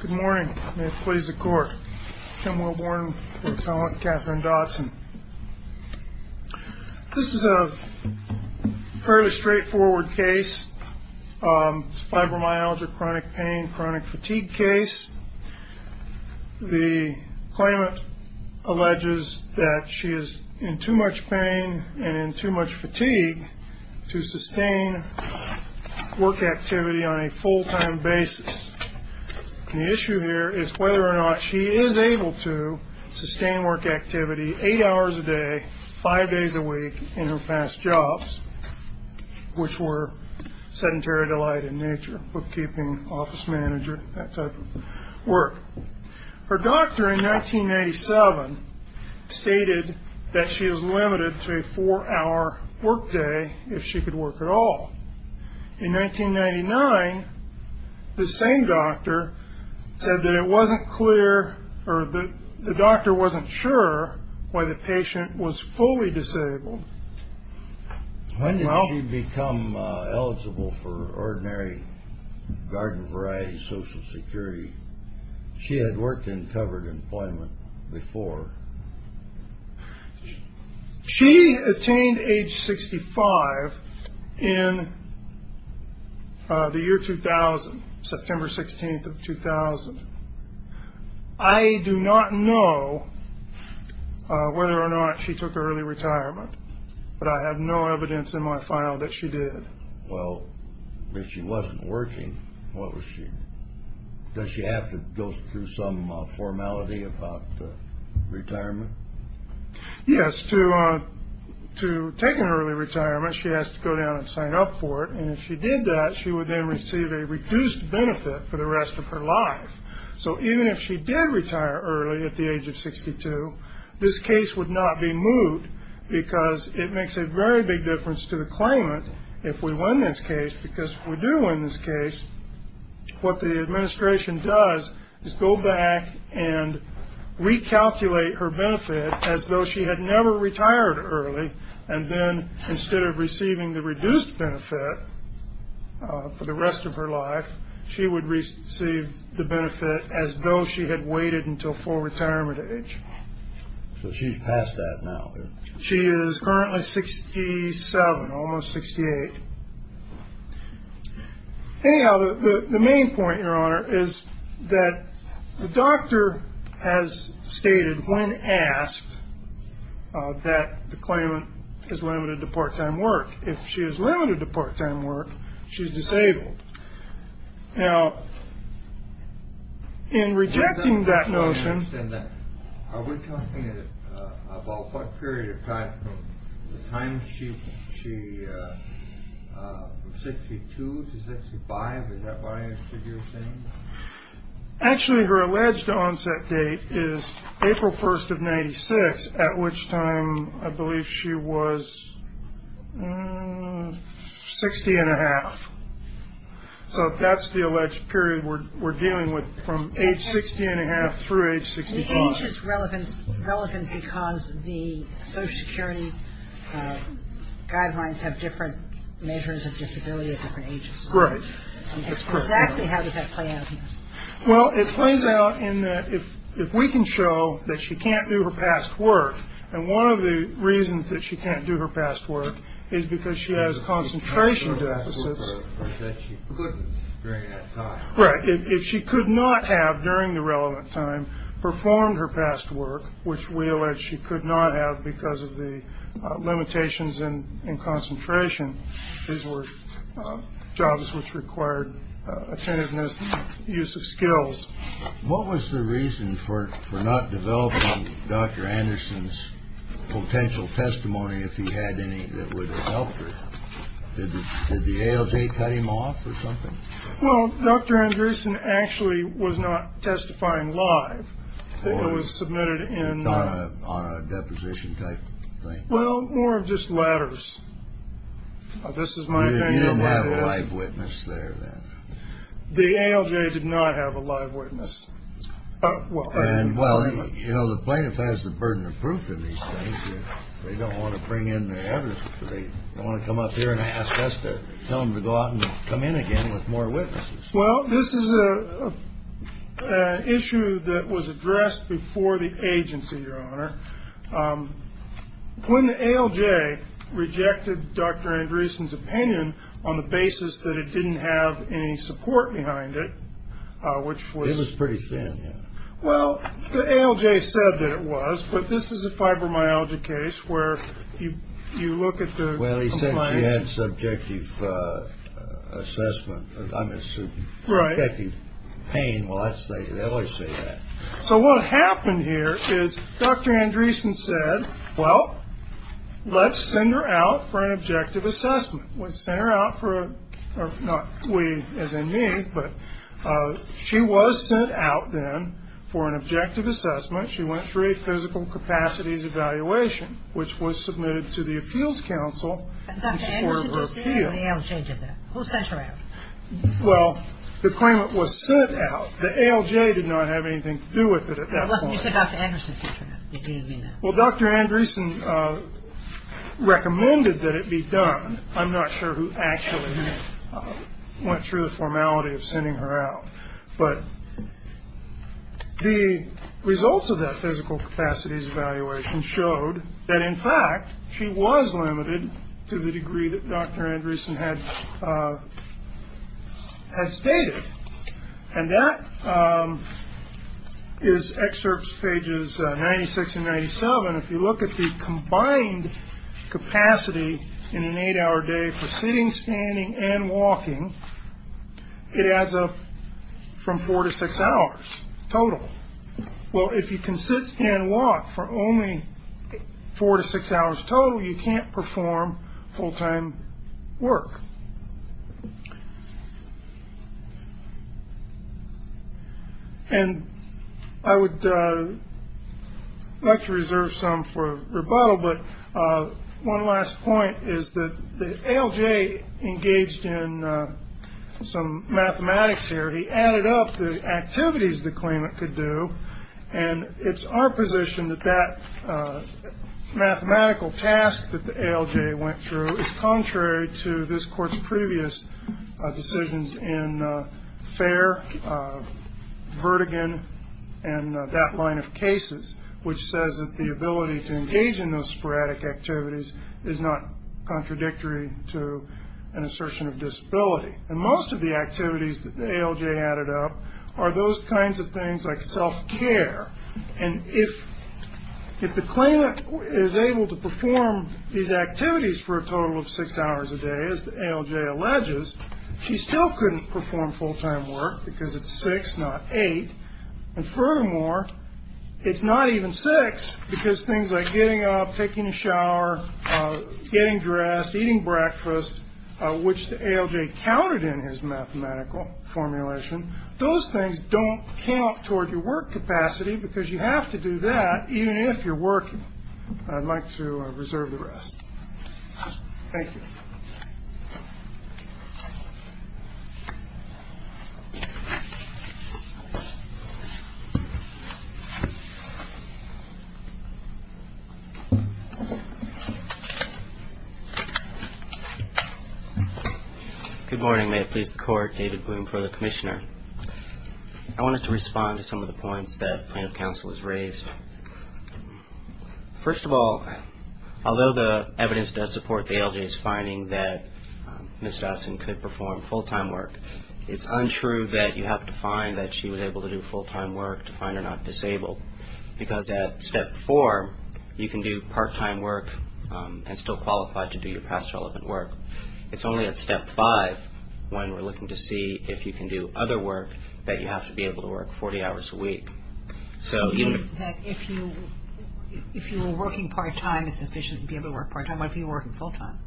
Good morning, may it please the court. Tim Wilborn, your talent, Katherine Dotson. This is a fairly straightforward case. It's a fibromyalgia, chronic pain, chronic fatigue case. The claimant alleges that she is in too much pain and in too much fatigue to sustain work activity on a full-time basis. The issue here is whether or not she is able to sustain work activity eight hours a day, five days a week in her past jobs, which were sedentary delight in nature, bookkeeping, office manager, that type of work. Her doctor in 1997 stated that she is limited to a four-hour workday if she could work at all. In 1999, the same doctor said that it wasn't clear or the doctor wasn't sure why the patient was fully disabled. When did she become eligible for ordinary garden variety Social Security? She had worked in covered employment before. She attained age 65 in the year 2000, September 16th of 2000. I do not know whether or not she took early retirement, but I have no evidence in my file that she did. Well, if she wasn't working, does she have to go through some formality about retirement? Yes. To take an early retirement, she has to go down and sign up for it. And if she did that, she would then receive a reduced benefit for the rest of her life. So even if she did retire early at the age of 62, this case would not be moved because it makes a very big difference to the claimant if we win this case, because we do win this case. What the administration does is go back and recalculate her benefit as though she had never retired early. And then instead of receiving the reduced benefit for the rest of her life, she would receive the benefit as though she had waited until full retirement age. So she's past that now. She is currently 67, almost 68. Anyhow, the main point, Your Honor, is that the doctor has stated when asked that the claimant is limited to part time work. If she is limited to part time work, she's disabled. Now, in rejecting that notion. I don't understand that. Are we talking about what period of time? The time she, from 62 to 65? Is that what I understood you were saying? Actually, her alleged onset date is April 1st of 96, at which time I believe she was 60 and a half. So that's the alleged period we're dealing with from age 60 and a half through age 65. Age is relevant because the Social Security guidelines have different measures of disability at different ages. Right. Exactly. How does that play out? Well, it plays out in that if if we can show that she can't do her past work. And one of the reasons that she can't do her past work is because she has concentration deficits. Right. If she could not have during the relevant time performed her past work, which we allege she could not have because of the limitations and concentration. These were jobs which required attentiveness, use of skills. What was the reason for not developing Dr. Anderson's potential testimony? If he had any, that would have helped her. Did the ALJ cut him off or something? Well, Dr. Anderson actually was not testifying live. It was submitted in on a deposition type thing. Well, more of just ladders. This is my life witness there. The ALJ did not have a live witness. Well, you know, the plaintiff has the burden of proof in these things. They don't want to bring in their evidence. They don't want to come up here and ask us to tell them to go out and come in again with more witnesses. Well, this is a issue that was addressed before the agency, your honor. When the ALJ rejected Dr. Andreessen's opinion on the basis that it didn't have any support behind it, which was pretty thin. Well, the ALJ said that it was. But this is a fibromyalgia case where you look at the. Well, he said she had subjective assessment. I'm assuming. Right. Pain. Well, let's say they always say that. So what happened here is Dr. Andreessen said, well, let's send her out for an objective assessment. We send her out for not we as in me, but she was sent out then for an objective assessment. She went through a physical capacities evaluation, which was submitted to the Appeals Council. And Dr. Andreessen did that and the ALJ did that. Who sent her out? Well, the claimant was sent out. The ALJ did not have anything to do with it at that point. Unless you said Dr. Andreessen sent her out. Well, Dr. Andreessen recommended that it be done. I'm not sure who actually went through the formality of sending her out. But the results of that physical capacities evaluation showed that, in fact, she was limited to the degree that Dr. Andreessen had had stated. And that is excerpts pages 96 and 97. And if you look at the combined capacity in an eight-hour day for sitting, standing and walking, it adds up from four to six hours total. Well, if you can sit, stand, walk for only four to six hours total, you can't perform full-time work. And I would like to reserve some for rebuttal. But one last point is that the ALJ engaged in some mathematics here. He added up the activities the claimant could do. And it's our position that that mathematical task that the ALJ went through is contrary to this court's previous decisions in Fair, Vertigan and that line of cases, which says that the ability to engage in those sporadic activities is not contradictory to an assertion of disability. And most of the activities that the ALJ added up are those kinds of things like self-care. And if the claimant is able to perform these activities for a total of six hours a day, as the ALJ alleges, she still couldn't perform full-time work because it's six, not eight. And furthermore, it's not even six because things like getting up, taking a shower, getting dressed, eating breakfast, which the ALJ counted in his mathematical formulation. Those things don't count toward your work capacity because you have to do that even if you're working. I'd like to reserve the rest. Thank you. Good morning. May it please the court. David Bloom for the commissioner. I wanted to respond to some of the points that plaintiff counsel has raised. First of all, although the evidence does support the ALJ's finding that Ms. Dotson could perform full-time work, it's untrue that you have to find that she was able to do full-time work to find her not disabled because at step four, you can do part-time work and still qualify to do your past relevant work. It's only at step five when we're looking to see if you can do other work that you have to be able to work 40 hours a week. So given that if you were working part-time, it's sufficient to be able to work part-time. What if you were working full-time?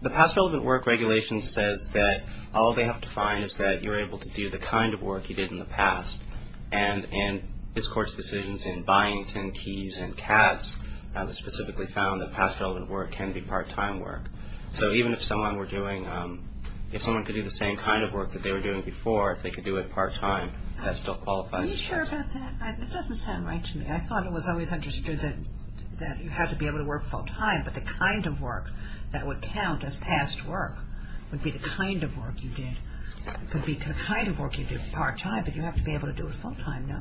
The past relevant work regulation says that all they have to find is that you're able to do the kind of work you did in the past. And this Court's decisions in Byington, Keyes and Katz specifically found that past relevant work can be part-time work. So even if someone were doing – if someone could do the same kind of work that they were doing before, if they could do it part-time, that still qualifies as part-time. Are you sure about that? It doesn't sound right to me. I thought it was always understood that you had to be able to work full-time, but the kind of work that would count as past work would be the kind of work you did. It could be the kind of work you did part-time, but you have to be able to do it full-time, no?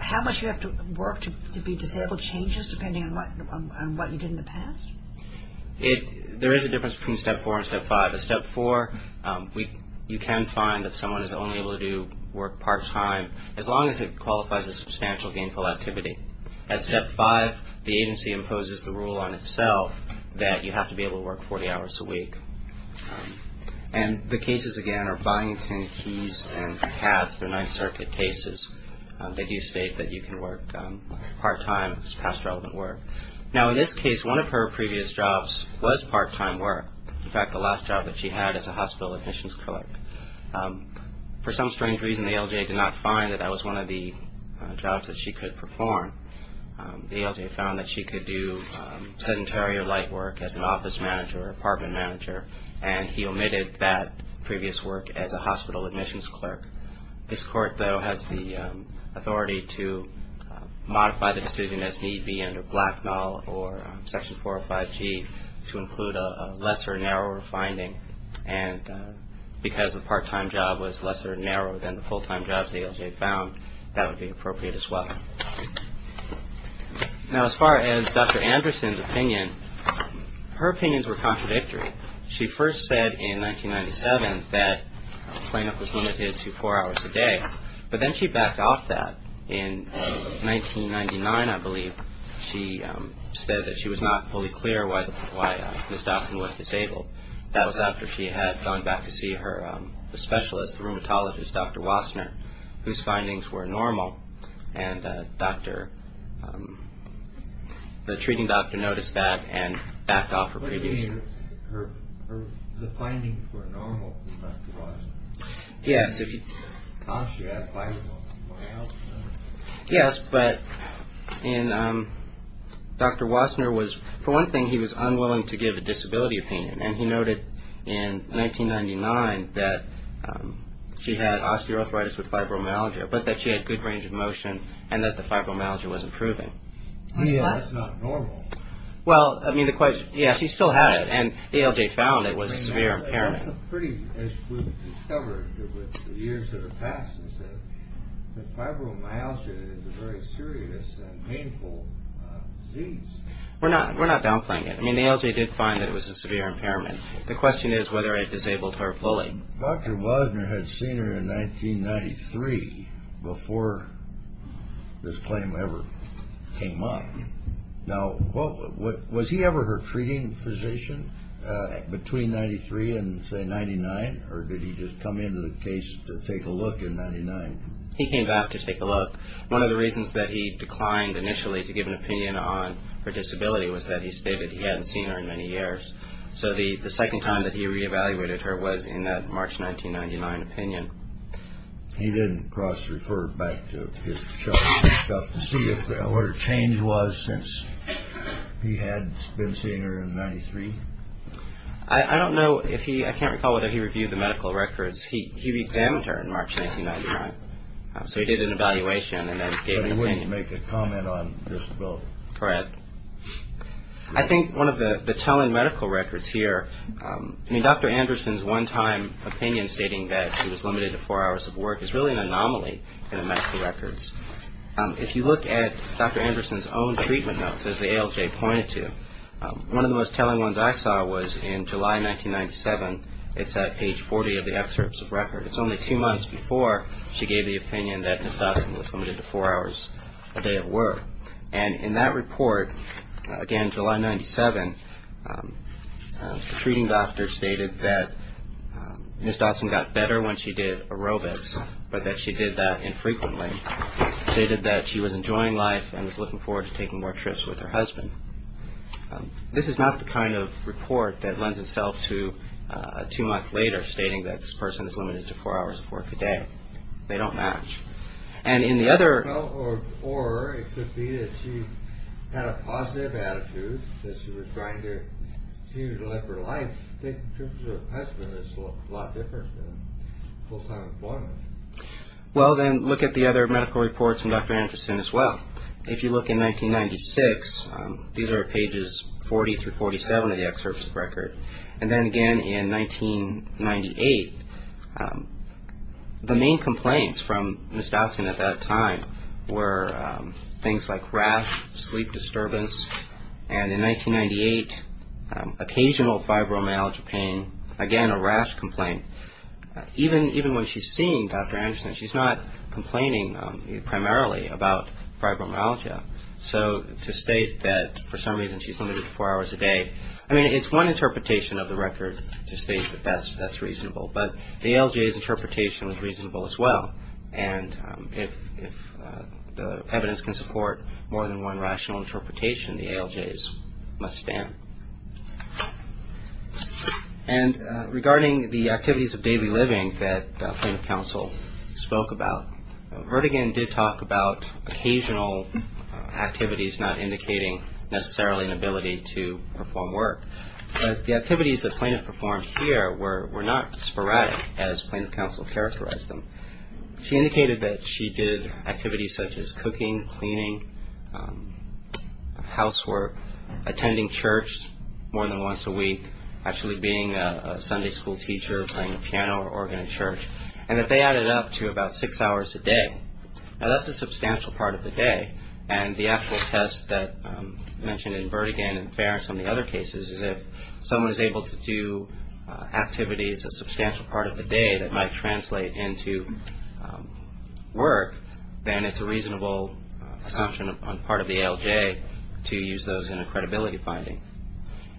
How much you have to work to be disabled changes depending on what you did in the past? There is a difference between Step 4 and Step 5. In Step 4, you can find that someone is only able to work part-time as long as it qualifies as substantial gainful activity. At Step 5, the agency imposes the rule on itself that you have to be able to work 40 hours a week. And the cases, again, are Byington, Keyes and Katz. They're Ninth Circuit cases. They do state that you can work part-time as past relevant work. Now, in this case, one of her previous jobs was part-time work. In fact, the last job that she had is a hospital admissions clerk. For some strange reason, the ALJ did not find that that was one of the jobs that she could perform. The ALJ found that she could do sedentary or light work as an office manager or apartment manager, and he omitted that previous work as a hospital admissions clerk. This Court, though, has the authority to modify the decision as need be under Blacknall or Section 405G to include a lesser, narrower finding. And because the part-time job was lesser and narrower than the full-time jobs the ALJ found, that would be appropriate as well. Now, as far as Dr. Anderson's opinion, her opinions were contradictory. She first said in 1997 that cleanup was limited to four hours a day, but then she backed off that. In 1999, I believe, she said that she was not fully clear why Ms. Dawson was disabled. That was after she had gone back to see her specialist, the rheumatologist, Dr. Wassner, whose findings were normal, and the treating doctor noticed that and backed off her previous job. The findings were normal for Dr. Wassner? Yes. She had a finding that was normal. Yes, but Dr. Wassner was, for one thing, he was unwilling to give a disability opinion, and he noted in 1999 that she had osteoarthritis with fibromyalgia, but that she had good range of motion and that the fibromyalgia was improving. That's not normal. Well, I mean, the question, yes, she still had it, and the ALJ found it was a severe impairment. That's a pretty issue we've discovered over the years of the past, is that fibromyalgia is a very serious and painful disease. We're not downplaying it. I mean, the ALJ did find that it was a severe impairment. The question is whether it disabled her fully. Dr. Wassner had seen her in 1993 before this claim ever came up. Now, was he ever her treating physician between 1993 and, say, 1999, or did he just come into the case to take a look in 1999? He came back to take a look. One of the reasons that he declined initially to give an opinion on her disability was that he stated he hadn't seen her in many years. So the second time that he re-evaluated her was in that March 1999 opinion. He didn't cross-refer back to his chart and stuff to see what her change was since he had been seeing her in 1993? I don't know if he – I can't recall whether he reviewed the medical records. He re-examined her in March 1999. So he did an evaluation and then gave an opinion. But he wouldn't make a comment on disability. Correct. I think one of the telling medical records here – I mean, Dr. Anderson's one-time opinion stating that she was limited to four hours of work is really an anomaly in the medical records. If you look at Dr. Anderson's own treatment notes, as the ALJ pointed to, one of the most telling ones I saw was in July 1997. It's at page 40 of the excerpts of record. It's only two months before she gave the opinion that Ms. Dawson was limited to four hours a day of work. And in that report, again July 1997, the treating doctor stated that Ms. Dawson got better when she did aerobics, but that she did that infrequently. She stated that she was enjoying life and was looking forward to taking more trips with her husband. This is not the kind of report that lends itself to two months later stating that this person is limited to four hours of work a day. They don't match. And in the other – Or it could be that she had a positive attitude, that she was trying to continue to live her life. I think in terms of her husband, it's a lot different than full-time employment. Well, then look at the other medical reports from Dr. Anderson as well. If you look in 1996, these are pages 40 through 47 of the excerpts of record. And then again in 1998, the main complaints from Ms. Dawson at that time were things like rash, sleep disturbance. And in 1998, occasional fibromyalgia pain, again a rash complaint. Even when she's seeing Dr. Anderson, she's not complaining primarily about fibromyalgia. So to state that for some reason she's limited to four hours a day, I mean, it's one interpretation of the record to state that that's reasonable. But the ALJ's interpretation was reasonable as well. And if the evidence can support more than one rational interpretation, the ALJ's must stand. And regarding the activities of daily living that plaintiff counsel spoke about, Vertigin did talk about occasional activities not indicating necessarily an ability to perform work. But the activities that plaintiff performed here were not sporadic as plaintiff counsel characterized them. She indicated that she did activities such as cooking, cleaning, housework, attending church more than once a week, actually being a Sunday school teacher, playing the piano or organ in church, and that they added up to about six hours a day. Now, that's a substantial part of the day. And the actual test that I mentioned in Vertigin and Fair and some of the other cases is that if someone is able to do activities a substantial part of the day that might translate into work, then it's a reasonable assumption on part of the ALJ to use those in a credibility finding.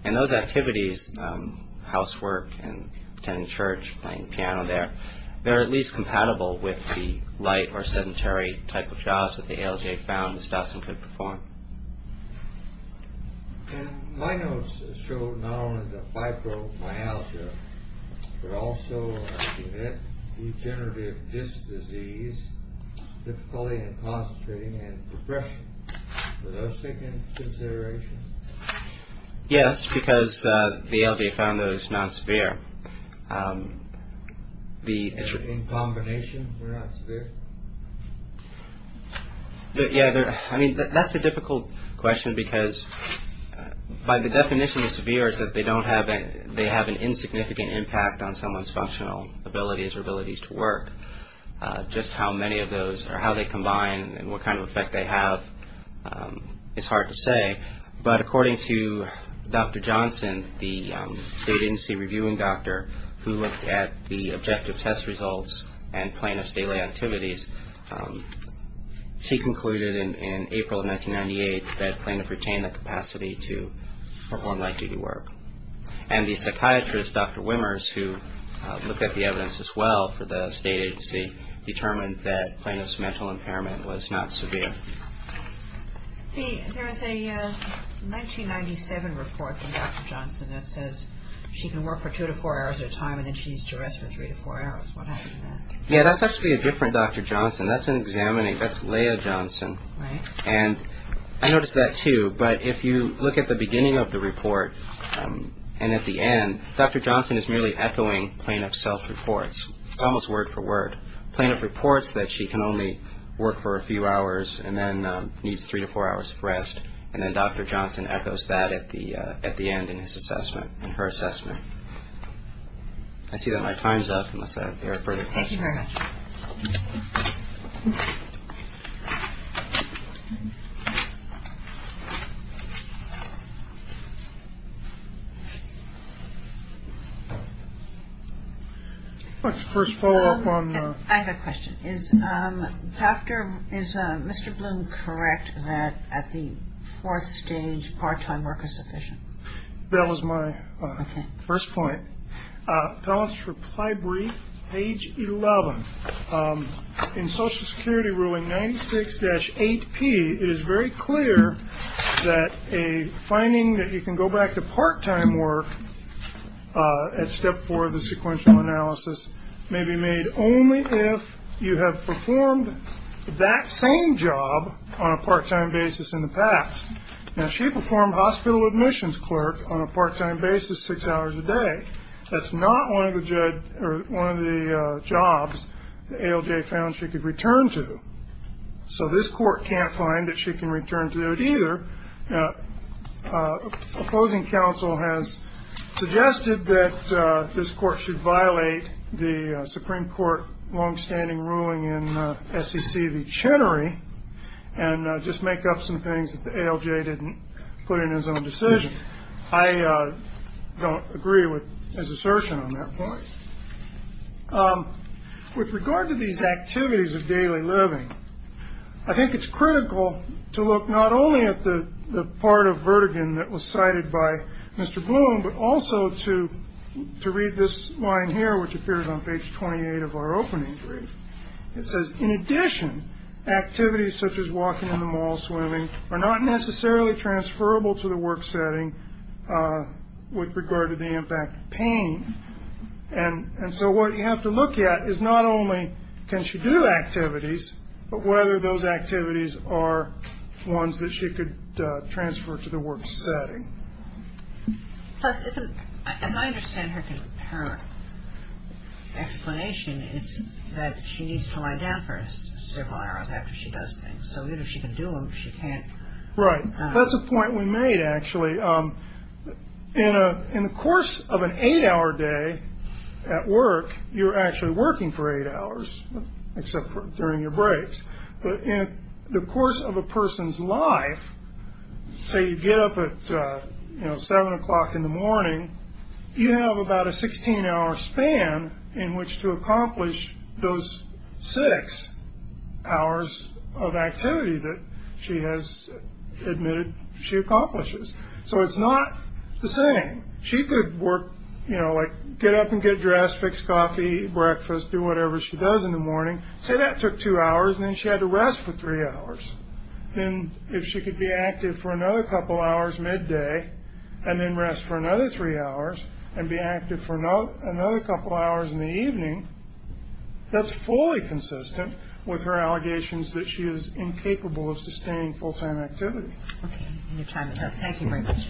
And those activities, housework and attending church, playing the piano there, they're at least compatible with the light or sedentary type of jobs that the ALJ found Ms. Dawson could perform. And my notes show not only the fibromyalgia, but also degenerative disc disease, difficulty in concentrating and depression. Are those taken into consideration? Yes, because the ALJ found those non-severe. In combination, they're not severe? Yeah, I mean, that's a difficult question, because by the definition of severe is that they have an insignificant impact on someone's functional abilities or abilities to work. Just how many of those or how they combine and what kind of effect they have is hard to say. But according to Dr. Johnson, the state agency reviewing doctor, who looked at the objective test results and plaintiff's daily activities, she concluded in April of 1998 that plaintiff retained the capacity to perform night duty work. And the psychiatrist, Dr. Wimmers, who looked at the evidence as well for the state agency, determined that plaintiff's mental impairment was not severe. There is a 1997 report from Dr. Johnson that says she can work for two to four hours at a time and then she's to rest for three to four hours. What happened to that? Yeah, that's actually a different Dr. Johnson. That's an examining, that's Leah Johnson. Right. And I noticed that too, but if you look at the beginning of the report and at the end, Dr. Johnson is merely echoing plaintiff's self-reports. It's almost word for word. Plaintiff reports that she can only work for a few hours and then needs three to four hours of rest, and then Dr. Johnson echoes that at the end in his assessment, in her assessment. I see that my time's up, unless I have any further questions. Thank you very much. Thank you. Let's first follow up on. I have a question. Is Dr. – is Mr. Bloom correct that at the fourth stage part-time work is sufficient? That was my first point. Appellant's reply brief, page 11. In Social Security ruling 96-8P, it is very clear that a finding that you can go back to part-time work at step four of the sequential analysis may be made only if you have performed that same job on a part-time basis in the past. Now, if she performed hospital admissions clerk on a part-time basis six hours a day, that's not one of the jobs the ALJ found she could return to. So this court can't find that she can return to it either. Opposing counsel has suggested that this court should violate the Supreme Court longstanding ruling in SEC v. Chenery and just make up some things that the ALJ didn't put in his own decision. I don't agree with his assertion on that point. With regard to these activities of daily living, I think it's critical to look not only at the part of Vertigo that was cited by Mr. Bloom, but also to to read this line here, which appears on page 28 of our opening brief. It says, in addition, activities such as walking in the mall, swimming, are not necessarily transferable to the work setting with regard to the impact of pain. And so what you have to look at is not only can she do activities, but whether those activities are ones that she could transfer to the work setting. Plus, as I understand her explanation, it's that she needs to lie down for several hours after she does things. So even if she can do them, she can't. Right. That's a point we made, actually. In the course of an eight hour day at work, you're actually working for eight hours, except for during your breaks. But in the course of a person's life, say you get up at seven o'clock in the morning, you have about a 16 hour span in which to accomplish those six hours of activity that she has admitted she accomplishes. So it's not the same. She could work, you know, like get up and get dressed, fix coffee, breakfast, do whatever she does in the morning. Say that took two hours and then she had to rest for three hours. Then if she could be active for another couple hours midday and then rest for another three hours and be active for another couple hours in the evening, that's fully consistent with her allegations that she is incapable of sustaining full time activity. Okay, your time is up. Thank you very much.